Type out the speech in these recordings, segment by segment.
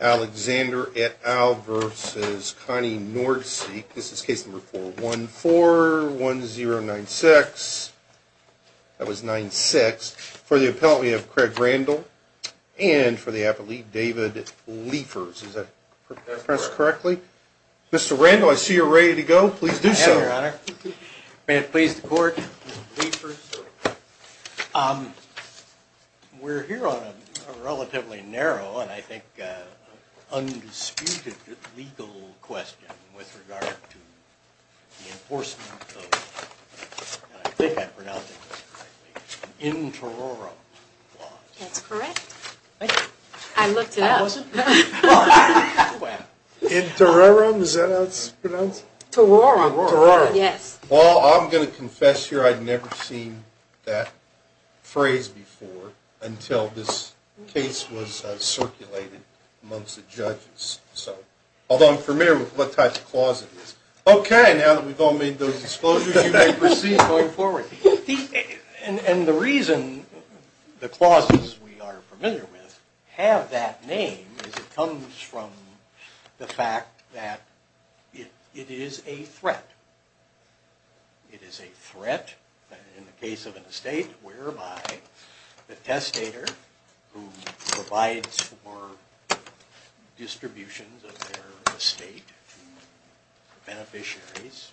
Alexander at Al versus Connie Nord speak. This is case number 4141096. That was 96 for the appellate. We have Craig Randall. And for the appellate, David Liefers. Is that pressed correctly? Mr. Randall, I see you're ready to go. Please do so. May it please the court. We're here on a relatively narrow and I think undisputed legal question with regard to the enforcement of, and I think I pronounced that correctly, interoral law. That's correct. I looked it up. Intererum, is that how it's pronounced? Terorum. Terorum. Yes. Well, I'm going to confess here I'd never seen that phrase before until this case was circulated amongst the judges. So, although I'm familiar with what type of clause it is. Okay, now that we've all made those disclosures, you may proceed going forward. And the reason the clauses we are familiar with have that name is it comes from the fact that it is a threat. It is a threat, in the case of an estate, whereby the testator who provides for distributions of their estate to beneficiaries.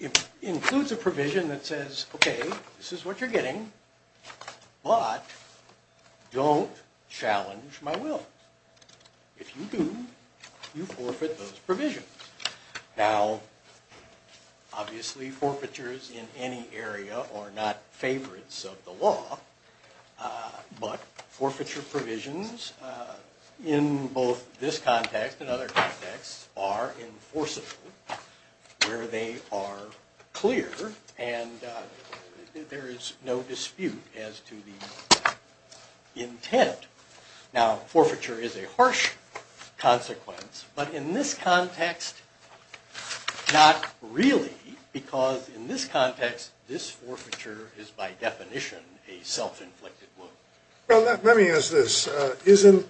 It includes a provision that says, okay, this is what you're getting, but don't challenge my will. If you do, you forfeit those provisions. Now, obviously forfeitures in any area are not favorites of the law, but forfeiture provisions in both this context and other contexts are enforceable. Where they are clear and there is no dispute as to the intent. Now, forfeiture is a harsh consequence, but in this context, not really, because in this context, this forfeiture is by definition a self-inflicted wound. Well, let me ask this. Isn't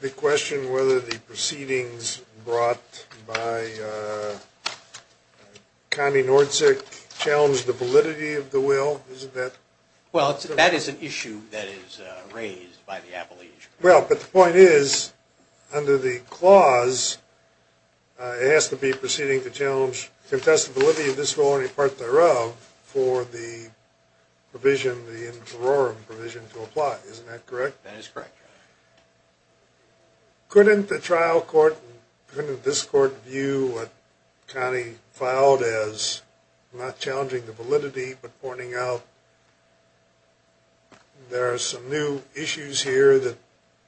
the question whether the proceedings brought by Connie Nordzig challenged the validity of the will? Isn't that? Well, that is an issue that is raised by the appellees. Well, but the point is, under the clause, it has to be proceeding to challenge contestability of this will and any part thereof for the provision, the interim provision to apply. Isn't that correct? That is correct. Couldn't the trial court, couldn't this court view what Connie filed as not challenging the validity, but pointing out there are some new issues here that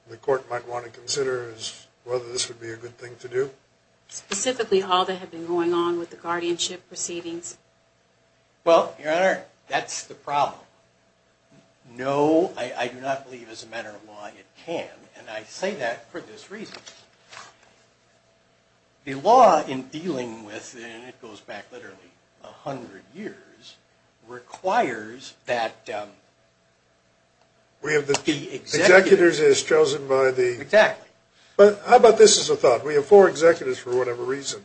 the court might want to consider as whether this would be a good thing to do? Specifically, all that had been going on with the guardianship proceedings. Well, Your Honor, that's the problem. No, I do not believe as a matter of law it can, and I say that for this reason. The law in dealing with, and it goes back literally 100 years, requires that the executors… Executors is chosen by the… Exactly. How about this as a thought? We have four executors for whatever reason.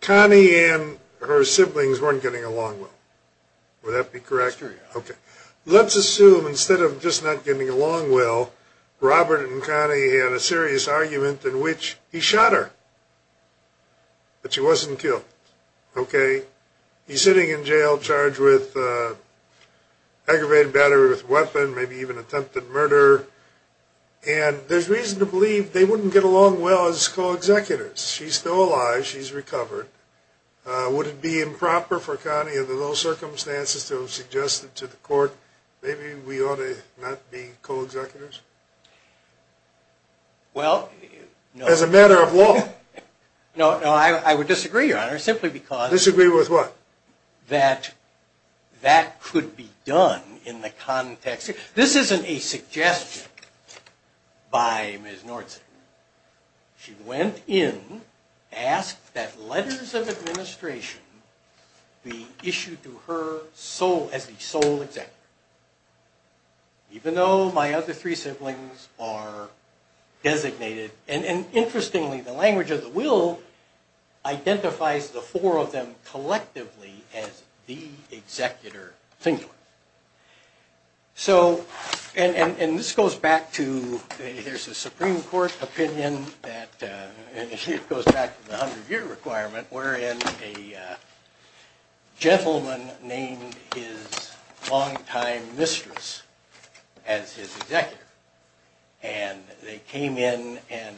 Connie and her siblings weren't getting along well. Would that be correct? Okay. Let's assume instead of just not getting along well, Robert and Connie had a serious argument in which he shot her, but she wasn't killed. Okay. He's sitting in jail charged with aggravated battery with a weapon, maybe even attempted murder. And there's reason to believe they wouldn't get along well as co-executors. She's still alive. She's recovered. Would it be improper for Connie, under those circumstances, to have suggested to the court maybe we ought to not be co-executors? Well… As a matter of law. No, I would disagree, Your Honor, simply because… Disagree with what? That that could be done in the context… This isn't a suggestion by Ms. Nordstein. She went in, asked that letters of administration be issued to her as the sole executor, even though my other three siblings are designated. And interestingly, the language of the will identifies the four of them collectively as the executor singular. So… And this goes back to… There's a Supreme Court opinion that… It goes back to the 100-year requirement wherein a gentleman named his longtime mistress as his executor. And they came in, and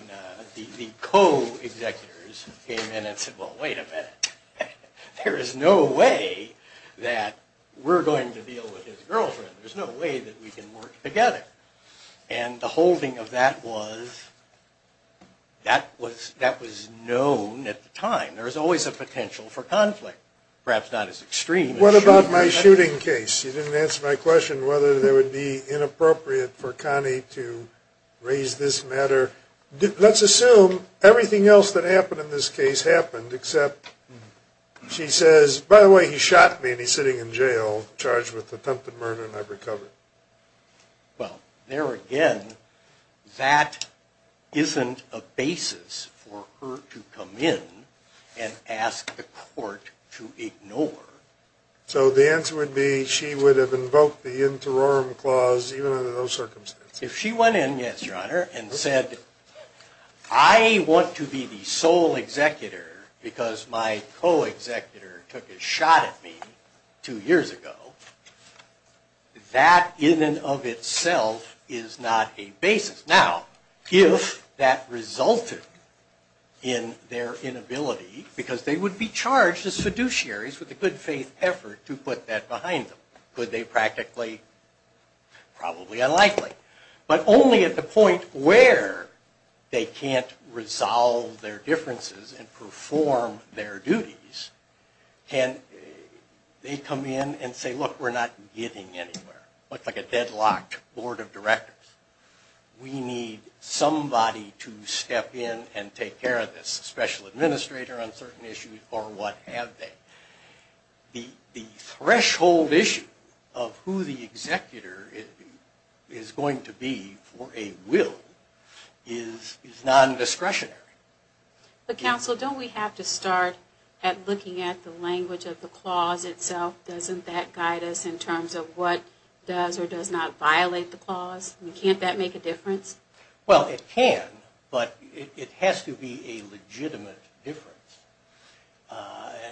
the co-executors came in and said, well, wait a minute. There is no way that we're going to deal with his girlfriend. There's no way that we can work together. And the holding of that was… That was known at the time. There was always a potential for conflict. Perhaps not as extreme as… What about my shooting case? You didn't answer my question whether it would be inappropriate for Connie to raise this matter. Let's assume everything else that happened in this case happened, except she says, by the way, he shot me, and he's sitting in jail, charged with attempted murder, and I've recovered. Well, there again, that isn't a basis for her to come in and ask the court to ignore. So the answer would be she would have invoked the interorum clause, even under those circumstances. If she went in, yes, Your Honor, and said, I want to be the sole executor because my co-executor took a shot at me two years ago, that in and of itself is not a basis. Now, if that resulted in their inability, because they would be charged as fiduciaries with the good faith effort to put that behind them, could they practically… Probably unlikely. But only at the point where they can't resolve their differences and perform their duties can they come in and say, look, we're not getting anywhere. It's like a deadlocked board of directors. We need somebody to step in and take care of this, a special administrator on certain issues, or what have they. The threshold issue of who the executor is going to be for a will is non-discretionary. But counsel, don't we have to start at looking at the language of the clause itself? Doesn't that guide us in terms of what does or does not violate the clause? Can't that make a difference? Well, it can, but it has to be a legitimate difference.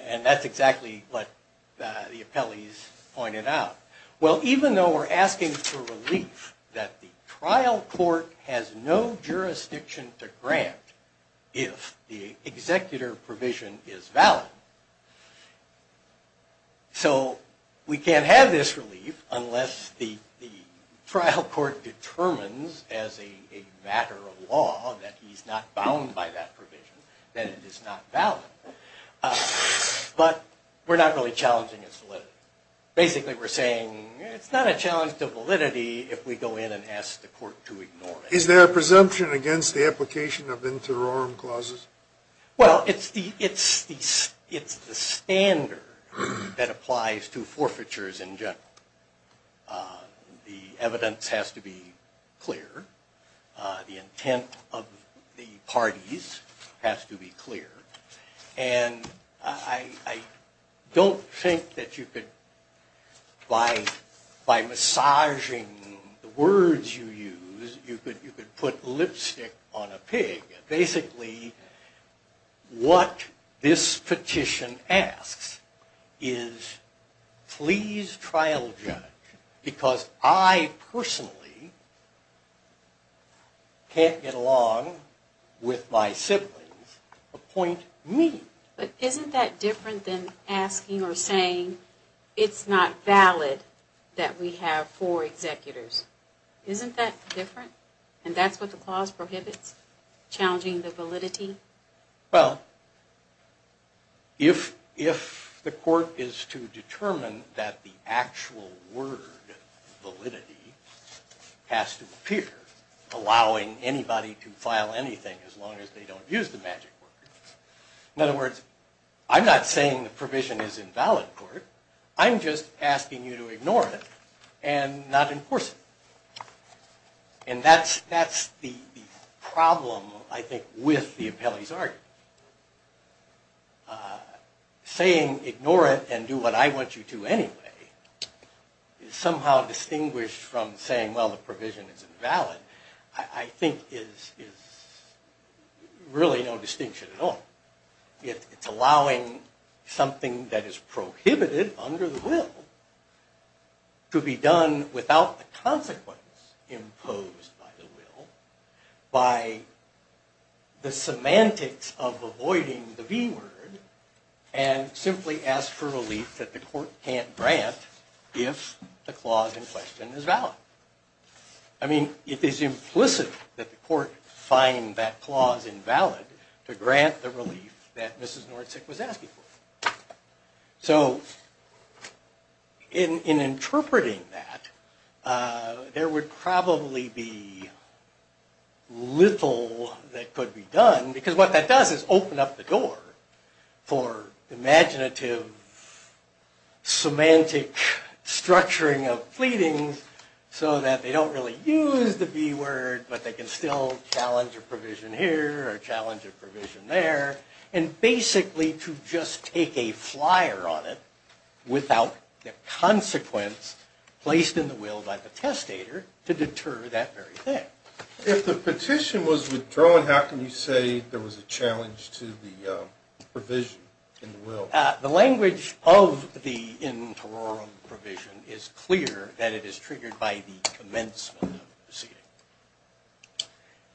And that's exactly what the appellees pointed out. Well, even though we're asking for relief that the trial court has no jurisdiction to grant if the executor provision is valid, so we can't have this relief unless the trial court determines as a matter of law that he's not bound by that provision, that it is not valid. But we're not really challenging its validity. Basically, we're saying it's not a challenge to validity if we go in and ask the court to ignore it. Is there a presumption against the application of inter orum clauses? Well, it's the standard that applies to forfeitures in general. The evidence has to be clear. The intent of the parties has to be clear. And I don't think that you could, by massaging the words you use, you could put lipstick on a pig. Basically, what this petition asks is please trial judge, because I personally can't get along with my siblings, appoint me. But isn't that different than asking or saying it's not valid that we have four executors? Isn't that different? And that's what the clause prohibits, challenging the validity? Well, if the court is to determine that the actual word validity has to appear, allowing anybody to file anything as long as they don't use the magic word. In other words, I'm not saying the provision is invalid, court. I'm just asking you to ignore it and not enforce it. And that's the problem, I think, with the appellee's argument. Saying ignore it and do what I want you to anyway is somehow distinguished from saying, well, the provision is invalid, I think is really no distinction at all. It's allowing something that is prohibited under the will to be done without the consequence imposed by the will, by the semantics of avoiding the B word, and simply ask for relief that the court can't grant if the clause in question is valid. I mean, it is implicit that the court find that clause invalid to grant the relief that Mrs. Nordsick was asking for. So in interpreting that, there would probably be little that could be done, because what that does is open up the door for imaginative semantic structuring of pleadings so that they don't really use the B word, but they can still challenge a provision here or challenge a provision there, and basically to just take a flyer on it without the consequence placed in the will by the testator to deter that very thing. If the petition was withdrawn, how can you say there was a challenge to the provision in the will? The language of the interim provision is clear that it is triggered by the commencement of the proceeding.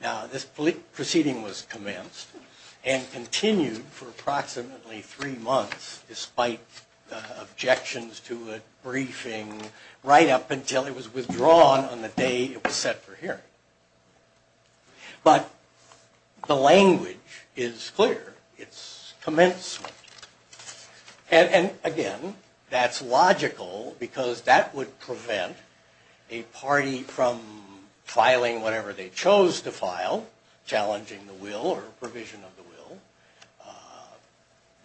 Now, this proceeding was commenced and continued for approximately three months, despite objections to a briefing right up until it was withdrawn on the day it was set for hearing. But the language is clear. It's commencement. And again, that's logical because that would prevent a party from filing whatever they chose to file, challenging the will or provision of the will.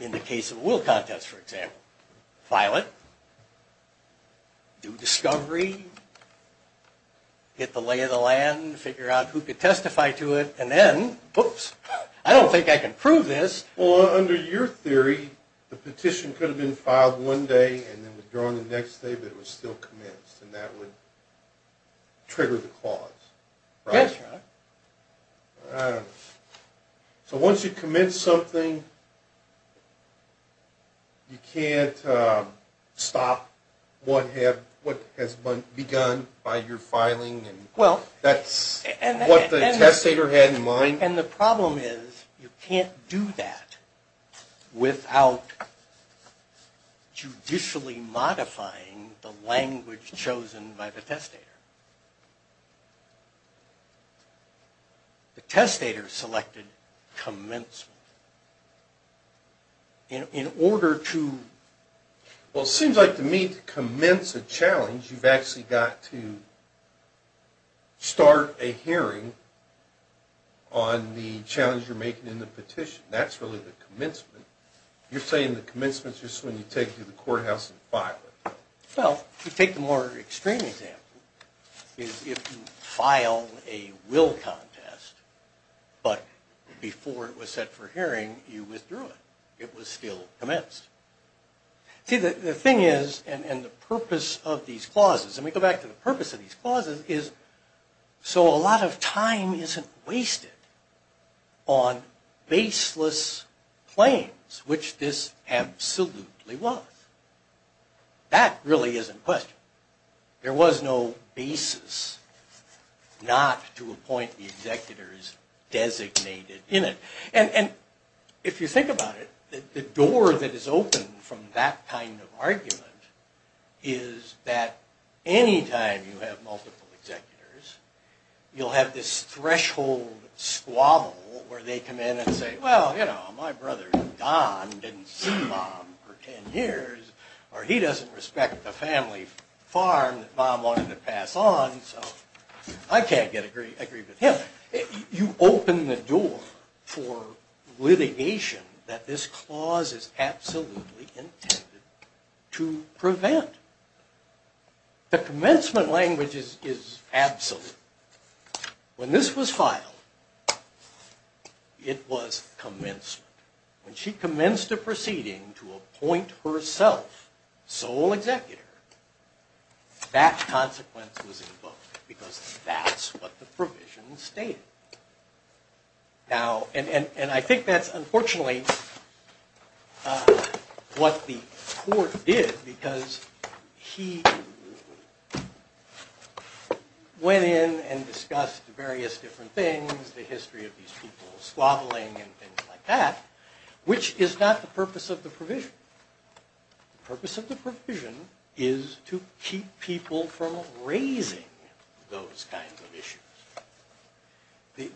In the case of a will contest, for example, file it, do discovery, get the lay of the land, figure out who could testify to it, and then, whoops, I don't think I can prove this. Well, under your theory, the petition could have been filed one day and then withdrawn the next day, but it was still commenced and that would trigger the clause, right? That's right. So once you commence something, you can't stop what has begun by your filing and that's what the testator had in mind? And the problem is you can't do that without judicially modifying the language chosen by the testator. The testator selected commencement. Well, it seems like to me to commence a challenge, you've actually got to start a hearing on the challenge you're making in the petition. That's really the commencement. You're saying the commencement is just when you take it to the courthouse and file it. Well, to take the more extreme example, if you file a will contest, but before it was set for hearing, you withdrew it. It was still commenced. See, the thing is, and the purpose of these clauses, and we go back to the purpose of these clauses, is so a lot of time isn't wasted on baseless claims, which this absolutely was. That really isn't a question. There was no basis not to appoint the executors designated in it. And if you think about it, the door that is open from that kind of argument is that any time you have multiple executors, you'll have this threshold squabble where they come in and say, well, you know, my brother Don didn't see Mom for 10 years, or he doesn't respect the family farm that Mom wanted to pass on, so I can't agree with him. You open the door for litigation that this clause is absolutely intended to prevent. The commencement language is absolute. When this was filed, it was commencement. When she commenced a proceeding to appoint herself sole executor, that consequence was invoked, because that's what the provision stated. Now, and I think that's unfortunately what the court did, because he went in and discussed various different things, the history of these people squabbling and things like that, which is not the purpose of the provision. The purpose of the provision is to keep people from raising those kinds of issues. The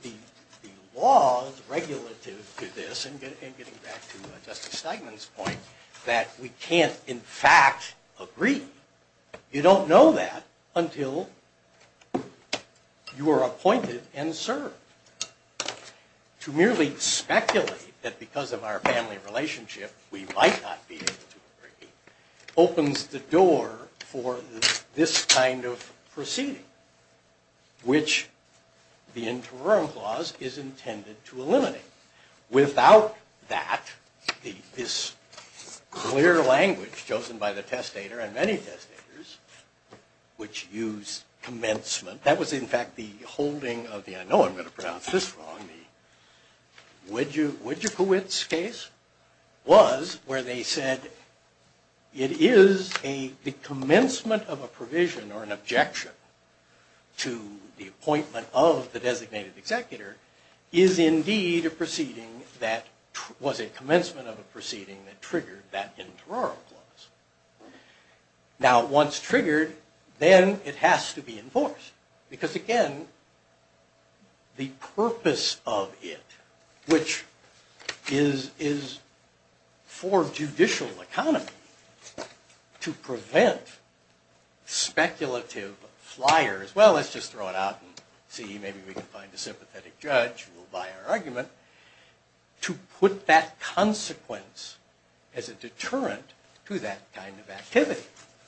law is regulative to this, and getting back to Justice Steinman's point, that we can't in fact agree. You don't know that until you are appointed and served. To merely speculate that because of our family relationship, we might not be able to agree, opens the door for this kind of proceeding, which the interim clause is intended to eliminate. Without that, this clear language chosen by the testator and many testators, which use commencement, that was in fact the holding of the, I know I'm going to pronounce this wrong, the Widjekowitz case, was where they said it is the commencement of a provision or an objection to the appointment of the designated executor, is indeed a proceeding that was a commencement of a proceeding that triggered that interim clause. Now once triggered, then it has to be enforced. Because again, the purpose of it, which is for judicial economy, to prevent speculative flyers, well let's just throw it out and see, maybe we can find a sympathetic judge who will buy our argument, to put that consequence as a deterrent to that kind of activity.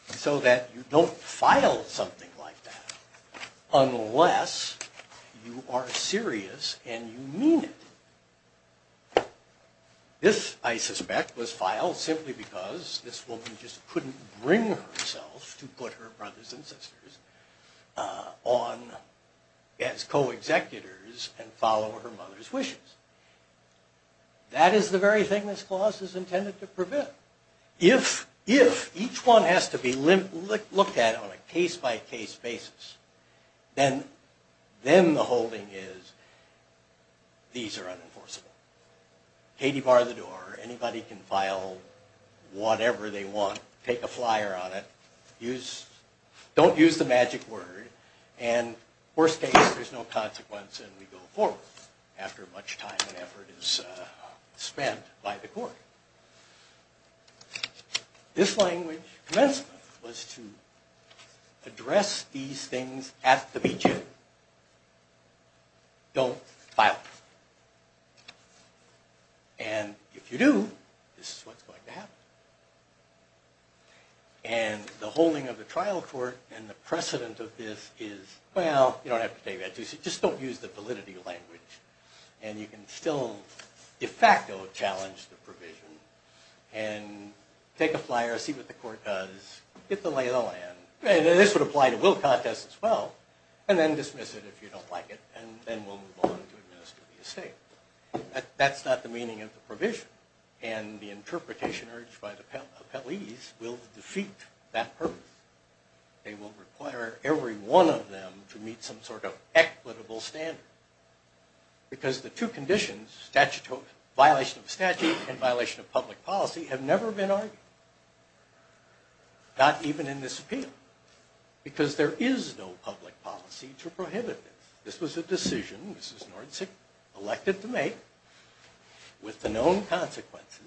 So that you don't file something like that unless you are serious and you mean it. This, I suspect, was filed simply because this woman just couldn't bring herself to put her brothers and sisters on as co-executors and follow her mother's wishes. That is the very thing this clause is intended to prevent. If each one has to be looked at on a case-by-case basis, then the holding is these are unenforceable. Katie, bar the door. Anybody can file whatever they want. Don't take a flyer on it. Don't use the magic word. And worst case, there's no consequence and we go forward after much time and effort is spent by the court. This language, commencement, was to address these things at the beginning. Don't file them. And if you do, this is what's going to happen. And the holding of the trial court and the precedent of this is, well, you don't have to take that. Just don't use the validity language. And you can still de facto challenge the provision and take a flyer, see what the court does, get the lay of the land. And this would apply to will contest as well. And then dismiss it if you don't like it. And then we'll move on to administer the estate. That's not the meaning of the provision. And the interpretation urged by the appellees will defeat that purpose. They will require every one of them to meet some sort of equitable standard. Because the two conditions, violation of statute and violation of public policy, have never been argued. Not even in this appeal. Because there is no public policy to prohibit this. This was a decision, Mrs. Nordzig, elected to make with the known consequences.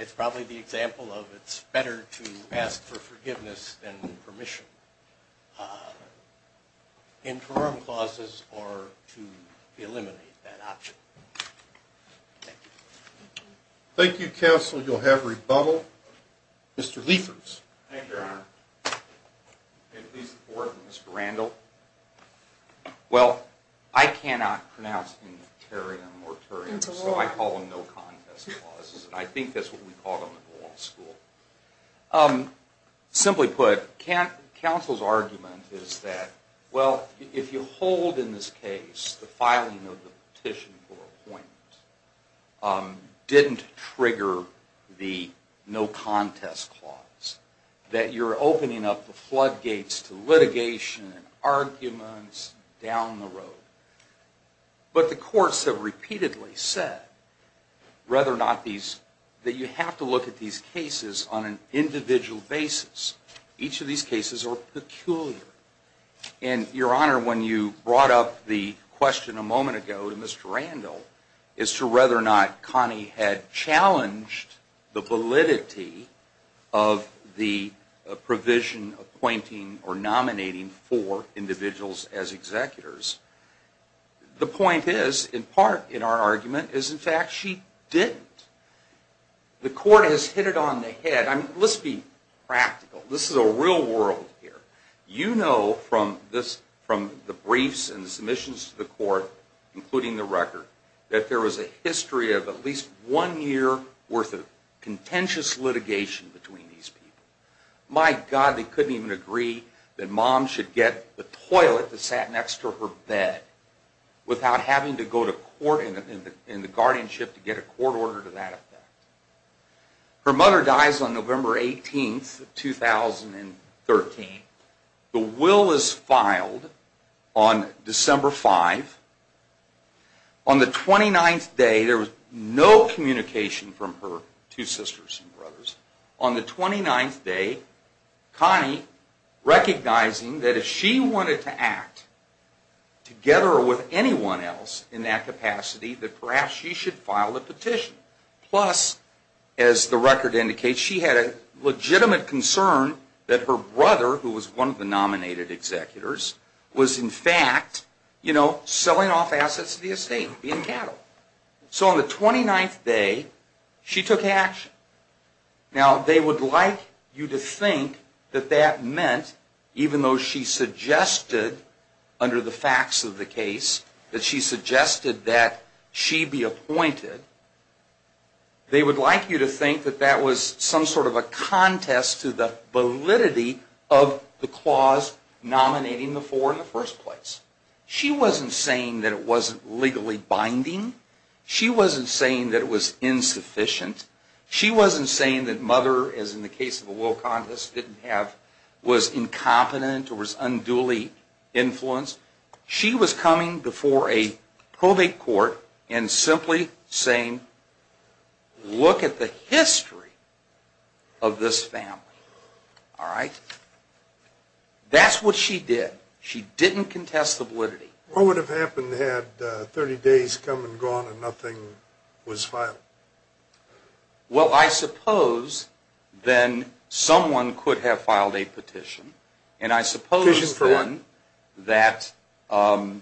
It's probably the example of it's better to ask for forgiveness than permission. Interim clauses are to eliminate that option. Thank you, counsel. You'll have rebuttal. Thank you, Your Honor. May it please the Court, Mr. Randall. Well, I cannot pronounce any interior or moratorium, so I call them no contest clauses. And I think that's what we called them in the law school. Simply put, counsel's argument is that, well, if you hold in this case the filing of the petition for appointment, didn't trigger the no contest clause. That you're opening up the floodgates to litigation and arguments down the road. But the courts have repeatedly said, rather not these, that you have to look at these cases on an individual basis. Each of these cases are peculiar. And, Your Honor, when you brought up the question a moment ago to Mr. Randall, as to whether or not Connie had challenged the validity of the provision appointing or nominating four individuals as executors, the point is, in part, in our argument, is in fact she didn't. The Court has hit it on the head. Let's be practical. This is a real world here. You know from the briefs and submissions to the Court, including the record, that there was a history of at least one year worth of contentious litigation between these people. My God, they couldn't even agree that Mom should get the toilet that sat next to her bed, without having to go to court in the guardianship to get a court order to that effect. Her mother dies on November 18, 2013. The will is filed on December 5. On the 29th day, there was no communication from her two sisters and brothers. On the 29th day, Connie, recognizing that if she wanted to act together with anyone else in that capacity, that perhaps she should file a petition. Plus, as the record indicates, she had a legitimate concern that her brother, who was one of the nominated executors, was in fact, you know, selling off assets of the estate, being cattle. So on the 29th day, she took action. Now they would like you to think that that meant, even though she suggested, under the facts of the case, that she suggested that she be appointed, they would like you to think that that was some sort of a contest to the validity of the clause nominating the four in the first place. She wasn't saying that it wasn't legally binding. She wasn't saying that it was insufficient. She wasn't saying that Mother, as in the case of a will contest, was incompetent or was unduly influenced. She was coming before a probate court and simply saying, look at the history of this family. That's what she did. She didn't contest the validity. What would have happened had 30 days come and gone and nothing was filed? Well, I suppose then someone could have filed a petition. And I suppose then that the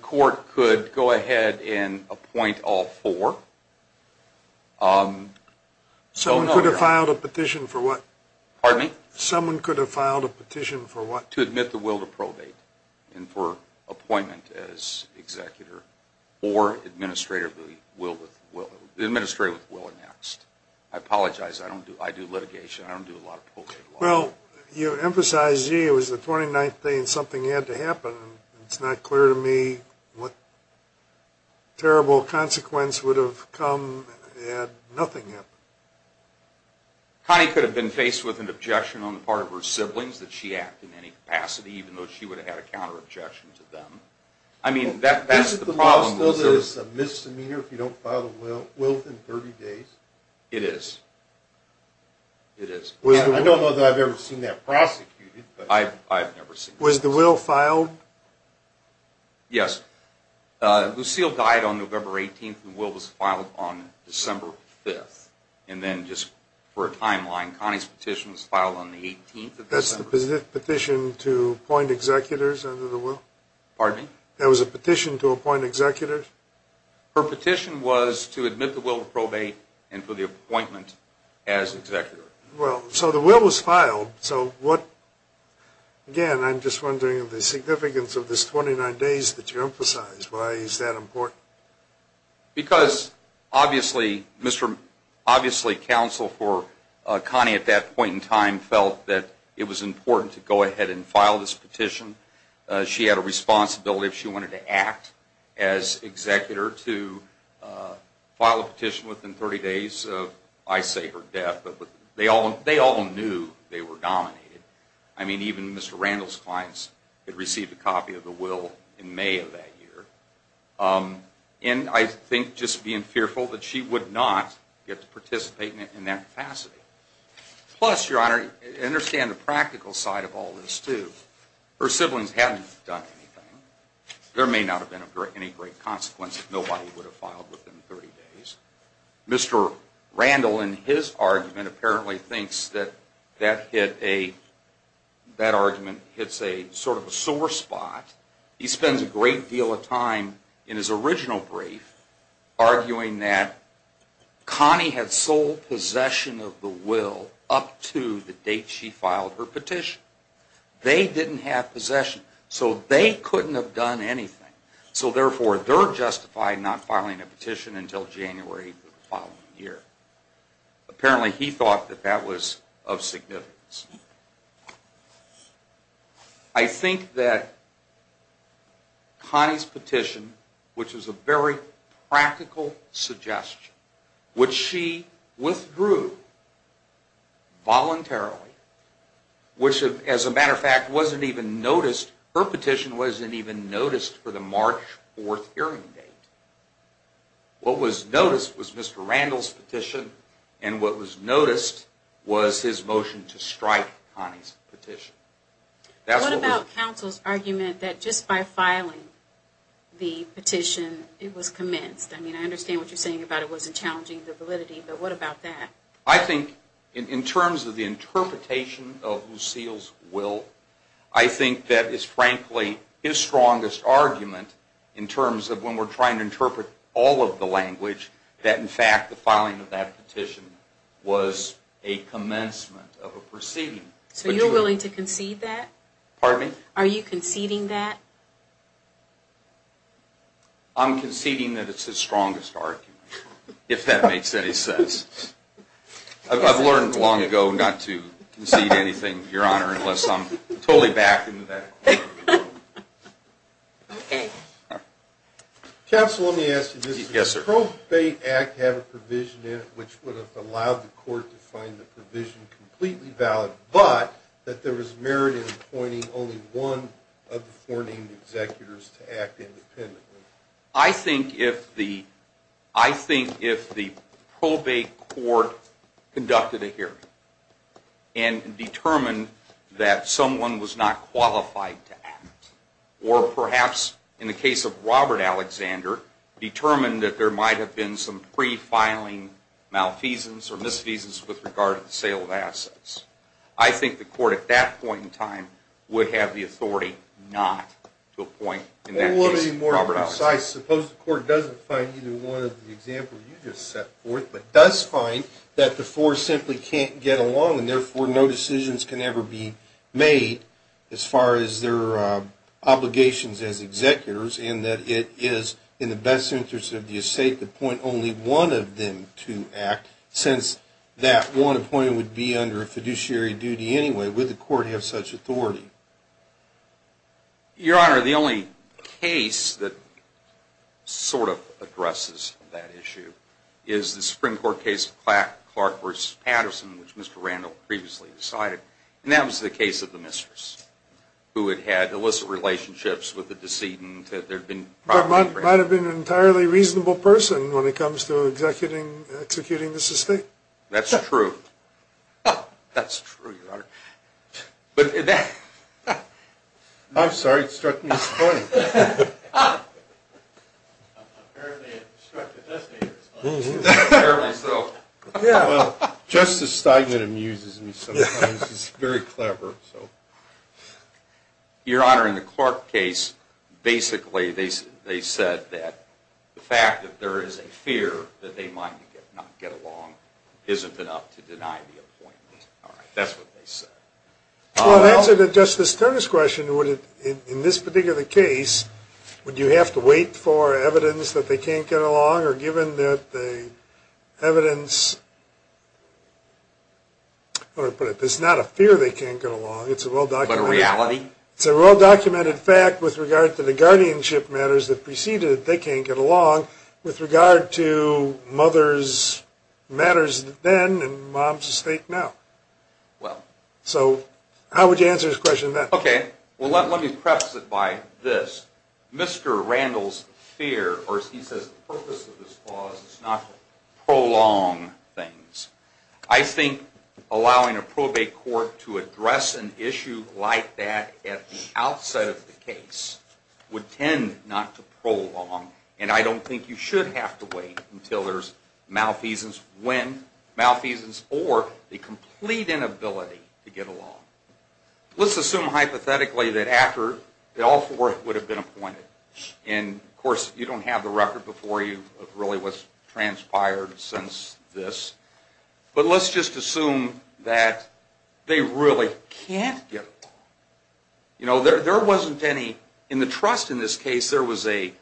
court could go ahead and appoint all four. Someone could have filed a petition for what? Pardon me? Someone could have filed a petition for what? To admit the will to probate and for appointment as executor or administrator of the will. The administrator of the will annexed. I apologize. I do litigation. I don't do a lot of probate law. Well, you emphasize, gee, it was the 29th day and something had to happen. It's not clear to me what terrible consequence would have come had nothing happened. Connie could have been faced with an objection on the part of her siblings that she acted in any capacity, even though she would have had a counter-objection to them. Isn't the law still a misdemeanor if you don't file a will within 30 days? It is. It is. I don't know that I've ever seen that prosecuted. I've never seen that prosecuted. Was the will filed? Yes. Lucille died on November 18th. The will was filed on December 5th. And then just for a timeline, Connie's petition was filed on the 18th of December. That's the petition to appoint executors under the will? Pardon me? That was a petition to appoint executors? Her petition was to admit the will to probate and for the appointment as executor. Well, so the will was filed. So what, again, I'm just wondering the significance of this 29 days that you emphasize. Why is that important? Because obviously counsel for Connie at that point in time felt that it was important to go ahead and file this petition. She had a responsibility if she wanted to act as executor to file a petition within 30 days of, I say, her death. They all knew they were dominated. I mean, even Mr. Randall's clients had received a copy of the will in May of that year. And I think just being fearful that she would not get to participate in that capacity. Plus, Your Honor, understand the practical side of all this, too. Her siblings hadn't done anything. There may not have been any great consequence if nobody would have filed within 30 days. Mr. Randall, in his argument, apparently thinks that that hit a, that argument hits a sort of a sore spot. He spends a great deal of time in his original brief arguing that Connie had sole possession of the will up to the date she filed her petition. They didn't have possession. So they couldn't have done anything. So therefore, they're justified not filing a petition until January of the following year. Apparently he thought that that was of significance. I think that Connie's petition, which was a very practical suggestion, which she withdrew voluntarily, which, as a matter of fact, wasn't even noticed, her petition wasn't even noticed for the March 4th hearing date. What was noticed was Mr. Randall's petition. And what was noticed was his motion to strike Connie's petition. What about counsel's argument that just by filing the petition, it was commenced? I mean, I understand what you're saying about it wasn't challenging the validity, but what about that? I think, in terms of the interpretation of Lucille's will, I think that is, frankly, his strongest argument, in terms of when we're trying to interpret all of the language, that, in fact, the filing of that petition was a commencement of a proceeding. So you're willing to concede that? Pardon me? Are you conceding that? I'm conceding that it's his strongest argument, if that makes any sense. I've learned long ago not to concede anything, Your Honor, unless I'm totally back into that. Okay. Counsel, let me ask you this. Yes, sir. Does the Probate Act have a provision in it which would have allowed the court to find the provision completely valid, but that there was merit in appointing only one of the four named executors to act independently? I think if the probate court conducted a hearing and determined that someone was not qualified to act, or perhaps, in the case of Robert Alexander, determined that there might have been some pre-filing malfeasance or misfeasance with regard to the sale of assets, I think the court, at that point in time, would have the authority not to appoint, in that case, Robert Alexander. Well, let me be more precise. Suppose the court doesn't find either one of the examples you just set forth, but does find that the four simply can't get along, and therefore no decisions can ever be made as far as their obligations as executors, and that it is in the best interest of the estate to appoint only one of them to act, since that one appointed would be under a fiduciary duty anyway. Would the court have such authority? Your Honor, the only case that sort of addresses that issue is the Supreme Court case of Clark v. Patterson, which Mr. Randall previously decided, and that was the case of the mistress, who had had illicit relationships with the decedent. There might have been an entirely reasonable person when it comes to executing this estate. That's true. That's true, Your Honor. I'm sorry. It struck me as funny. Apparently, it struck the testator as funny. Apparently so. Well, Justice Steigman amuses me sometimes. He's very clever. Your Honor, in the Clark case, basically they said that the fact that there is a fear that they might not get along isn't enough to deny the appointment. That's what they said. Well, in answer to Justice Turner's question, in this particular case, would you have to wait for evidence that they can't get along? Or given that the evidence, how do I put it? There's not a fear they can't get along. But a reality? It's a well-documented fact with regard to the guardianship matters that preceded they can't get along with regard to mothers' matters then and moms' estate now. Well. So how would you answer his question then? Okay. Well, let me preface it by this. Mr. Randall's fear, or he says the purpose of this clause is not to prolong things. I think allowing a probate court to address an issue like that at the outset of the case would tend not to prolong. And I don't think you should have to wait until there's malfeasance when, malfeasance or the complete inability to get along. Let's assume hypothetically that all four would have been appointed. And, of course, you don't have the record before you of really what transpired since this. But let's just assume that they really can't get along. You know, there wasn't any, in the trust in this case, there was a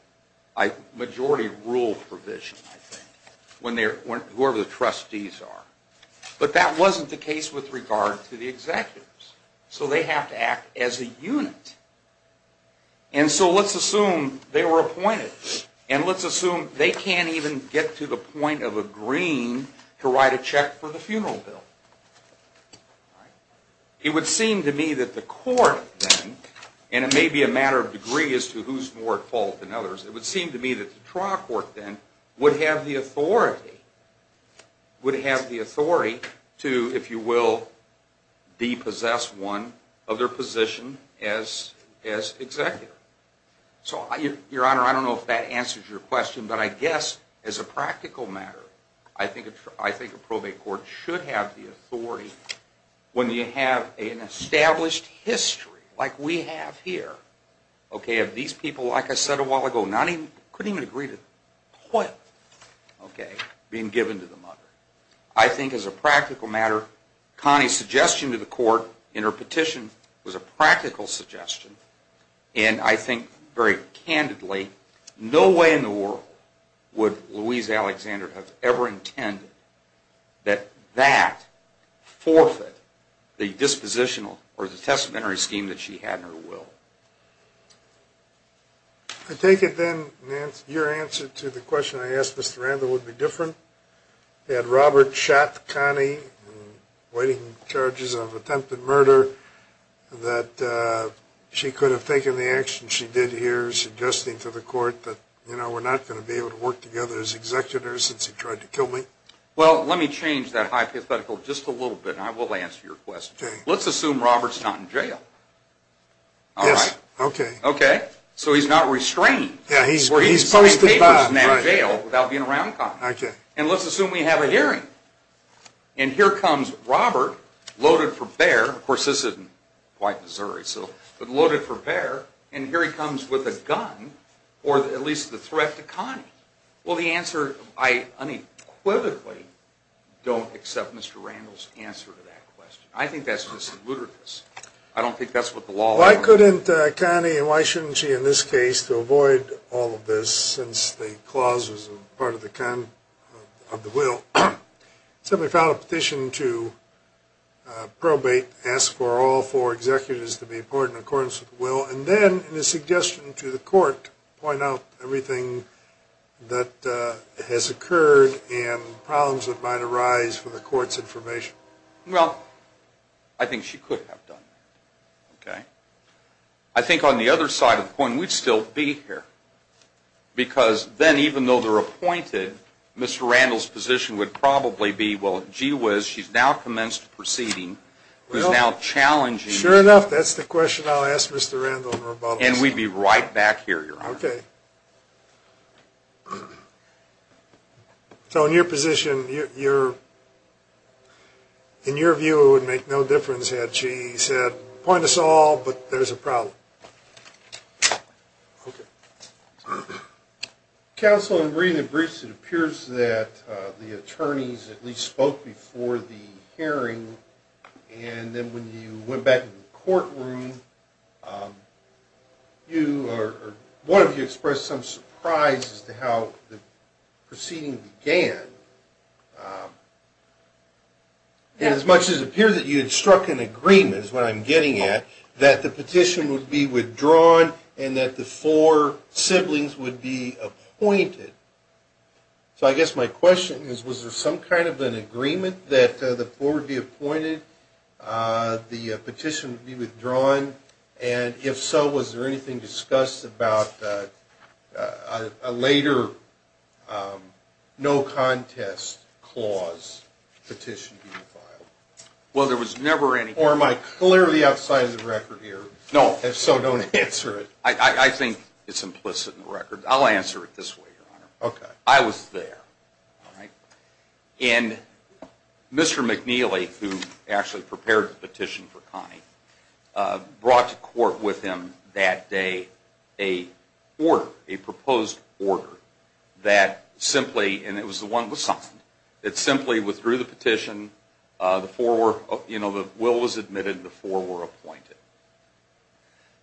majority rule provision, I think, whoever the trustees are. But that wasn't the case with regard to the executives. So they have to act as a unit. And so let's assume they were appointed. And let's assume they can't even get to the point of agreeing to write a check for the funeral bill. It would seem to me that the court then, and it may be a matter of degree as to who's more at fault than others, it would seem to me that the trial court then would have the authority to, if you will, depossess one of their position as executive. So, Your Honor, I don't know if that answers your question, but I guess as a practical matter, I think a probate court should have the authority, when you have an established history like we have here, of these people, like I said a while ago, couldn't even agree to quit being given to the mother. I think as a practical matter, Connie's suggestion to the court in her petition was a practical suggestion. And I think very candidly, no way in the world would Louise Alexander have ever intended that that forfeit the dispositional or the testamentary scheme that she had in her will. I take it then, Nance, your answer to the question I asked Mr. Randall would be different. Had Robert shot Connie in waiting charges of attempted murder, that she could have taken the action she did here, suggesting to the court that, you know, we're not going to be able to work together as executors since he tried to kill me? Well, let me change that hypothetical just a little bit, and I will answer your question. Let's assume Robert's not in jail. Yes, okay. Okay, so he's not restrained. Yeah, he's posted back. He's not in jail without being around Connie. Okay. And let's assume we have a hearing. And here comes Robert, loaded for bear. Of course, this isn't quite Missouri, but loaded for bear. And here he comes with a gun, or at least the threat to Connie. Well, the answer I unequivocally don't accept Mr. Randall's answer to that question. I think that's just ludicrous. I don't think that's what the law allows. Why couldn't Connie, and why shouldn't she in this case, to avoid all of this since the clause was part of the will? Somebody filed a petition to probate, ask for all four executors to be appointed in accordance with the will, and then in a suggestion to the court, point out everything that has occurred and problems that might arise for the court's information. Well, I think she could have done that. Okay? I think on the other side of the coin, we'd still be here, because then even though they're appointed, Mr. Randall's position would probably be, well, gee whiz, she's now commenced proceeding. She's now challenging. Sure enough, that's the question I'll ask Mr. Randall in rebuttal. And we'd be right back here, Your Honor. Okay. So in your position, in your view, it would make no difference had she said, appoint us all, but there's a problem. Okay. Counsel, in reading the briefs, it appears that the attorneys at least spoke before the hearing, and then when you went back to the courtroom, one of you expressed some surprise as to how the proceeding began. As much as it appears that you had struck an agreement, is what I'm getting at, that the petition would be withdrawn and that the four siblings would be appointed. So I guess my question is, was there some kind of an agreement that the four would be appointed, the petition would be withdrawn, and if so, was there anything discussed about a later no contest clause petition being filed? Well, there was never anything. Or am I clearly outside of the record here? No. If so, don't answer it. I think it's implicit in the record. I'll answer it this way, Your Honor. Okay. I was there. And Mr. McNeely, who actually prepared the petition for Connie, brought to court with him that day a proposed order that simply, and it was the one that was signed, that simply withdrew the petition. The four were, you know, the will was admitted and the four were appointed.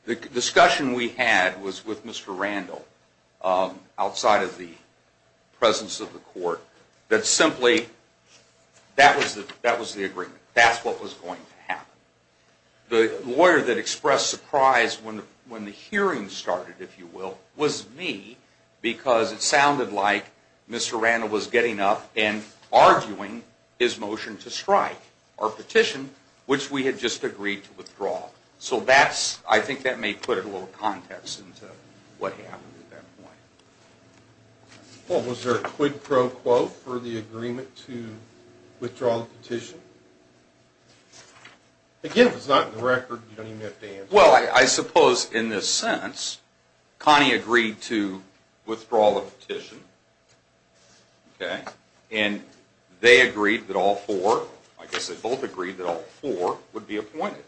The discussion we had was with Mr. Randall, outside of the presence of the court, that simply that was the agreement. That's what was going to happen. The lawyer that expressed surprise when the hearing started, if you will, was me because it sounded like Mr. Randall was getting up and arguing his motion to strike our petition, which we had just agreed to withdraw. So that's, I think that may put a little context into what happened at that point. Well, was there a quid pro quo for the agreement to withdraw the petition? Again, if it's not in the record, you don't even have to answer it. Well, I suppose in this sense, Connie agreed to withdraw the petition, okay, and they agreed that all four, I guess they both agreed that all four would be appointed.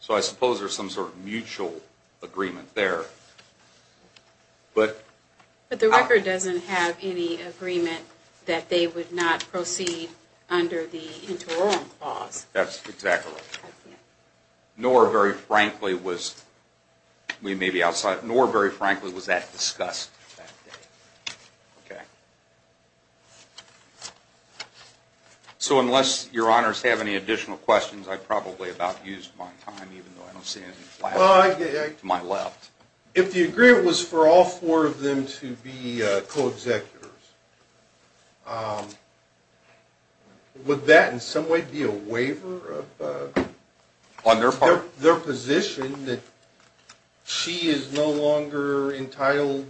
So I suppose there's some sort of mutual agreement there. But the record doesn't have any agreement that they would not proceed under the interim clause. That's exactly right. Nor, very frankly, was that discussed that day. Okay. So unless your honors have any additional questions, I probably about used my time, even though I don't see anything flashing to my left. If the agreement was for all four of them to be co-executives, would that in some way be a waiver? On their part? Their position that she is no longer entitled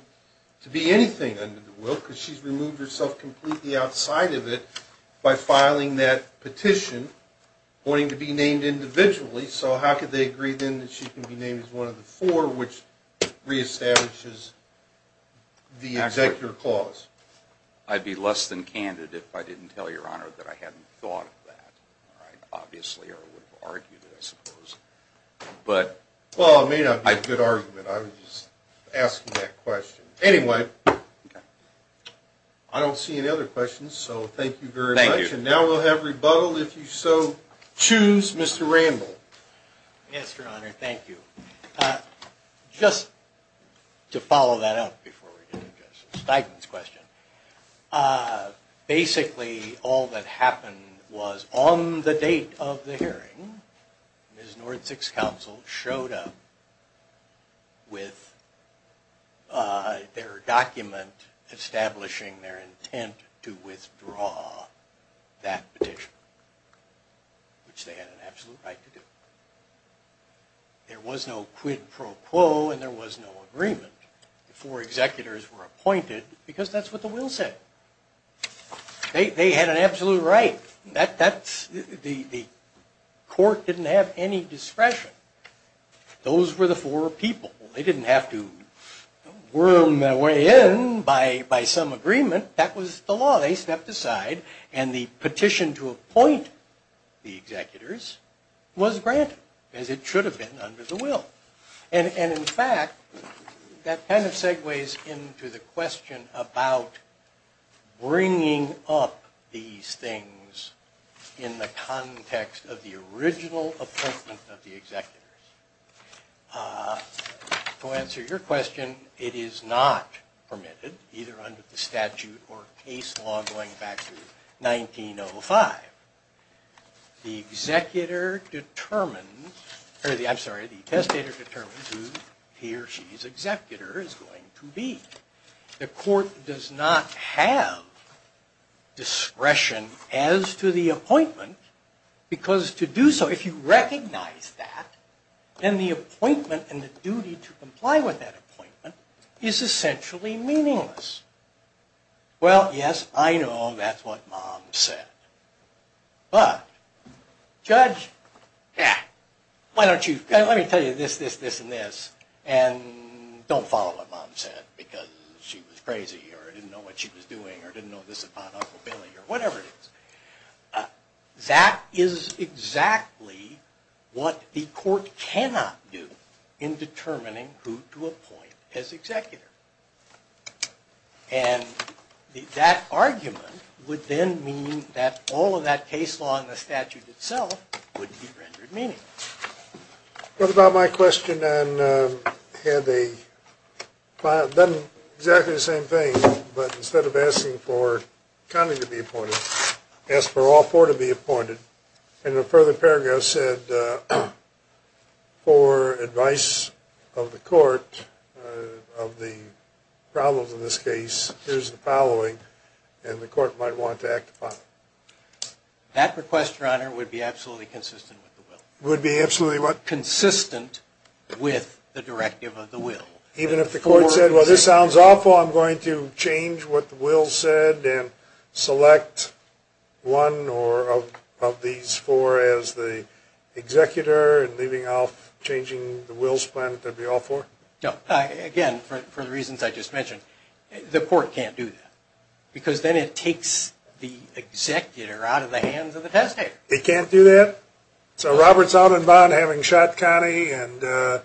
to be anything under the will because she's removed herself completely outside of it by filing that petition wanting to be named individually. So how could they agree then that she can be named as one of the four, which reestablishes the executive clause? I'd be less than candid if I didn't tell your honor that I hadn't thought of that. Obviously, I would have argued it, I suppose. Well, it may not be a good argument. I was just asking that question. Anyway, I don't see any other questions, so thank you very much. Thank you. And now we'll have rebuttal. If you so choose, Mr. Randall. Yes, your honor. Thank you. Just to follow that up before we get into Stiglitz's question, basically all that happened was on the date of the hearing, Ms. Nordzig's counsel showed up with their document establishing their intent to withdraw that petition, which they had an absolute right to do. There was no quid pro quo and there was no agreement. The four executors were appointed because that's what the will said. They had an absolute right. The court didn't have any discretion. Those were the four people. They didn't have to worm their way in by some agreement. That was the law. They stepped aside and the petition to appoint the executors was granted, as it should have been under the will. And, in fact, that kind of segues into the question about bringing up these things in the context of the original appointment of the executors. To answer your question, it is not permitted, either under the statute or case law going back to 1905. The testator determines who he or she's executor is going to be. The court does not have discretion as to the appointment because to do so, if you recognize that, then the appointment and the duty to comply with that appointment is essentially meaningless. Well, yes, I know that's what mom said. But, judge, let me tell you this, this, this, and this, and don't follow what mom said because she was crazy or didn't know what she was doing or didn't know this about Uncle Billy or whatever it is. That is exactly what the court cannot do in determining who to appoint as executor. And that argument would then mean that all of that case law in the statute itself would be rendered meaningless. What about my question on had they done exactly the same thing, but instead of asking for Connie to be appointed, asked for all four to be appointed, and the further paragraph said for advice of the court of the problems in this case, here's the following, and the court might want to act upon it. That request, your honor, would be absolutely consistent with the will. Would be absolutely what? Consistent with the directive of the will. Even if the court said, well, this sounds awful. I'm going to change what the will said and select one of these four as the executor and leaving off changing the will's plan, that would be all four? No. Again, for the reasons I just mentioned, the court can't do that because then it takes the executor out of the hands of the testator. It can't do that? So Robert's out in bond having shot Connie and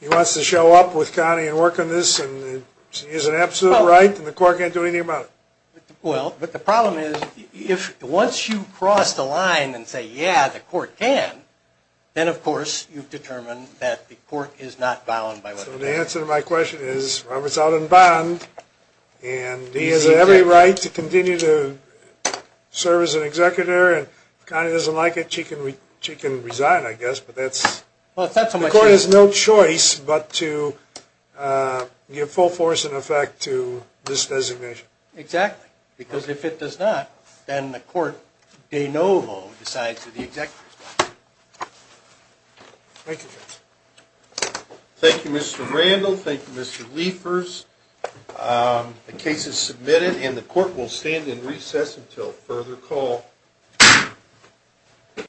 he wants to show up with Connie and work on this and she has an absolute right and the court can't do anything about it? Well, but the problem is once you cross the line and say, yeah, the court can, then of course you've determined that the court is not bound by what it says. So the answer to my question is Robert's out in bond and he has every right to continue to serve as an executor, and if Connie doesn't like it, she can resign, I guess, but that's... Well, it's not so much... The court has no choice but to give full force and effect to this designation. Exactly, because if it does not, then the court de novo decides who the executor is. Thank you, Judge. Thank you, Mr. Randall. Thank you, Mr. Liefers. The case is submitted and the court will stand in recess until further call.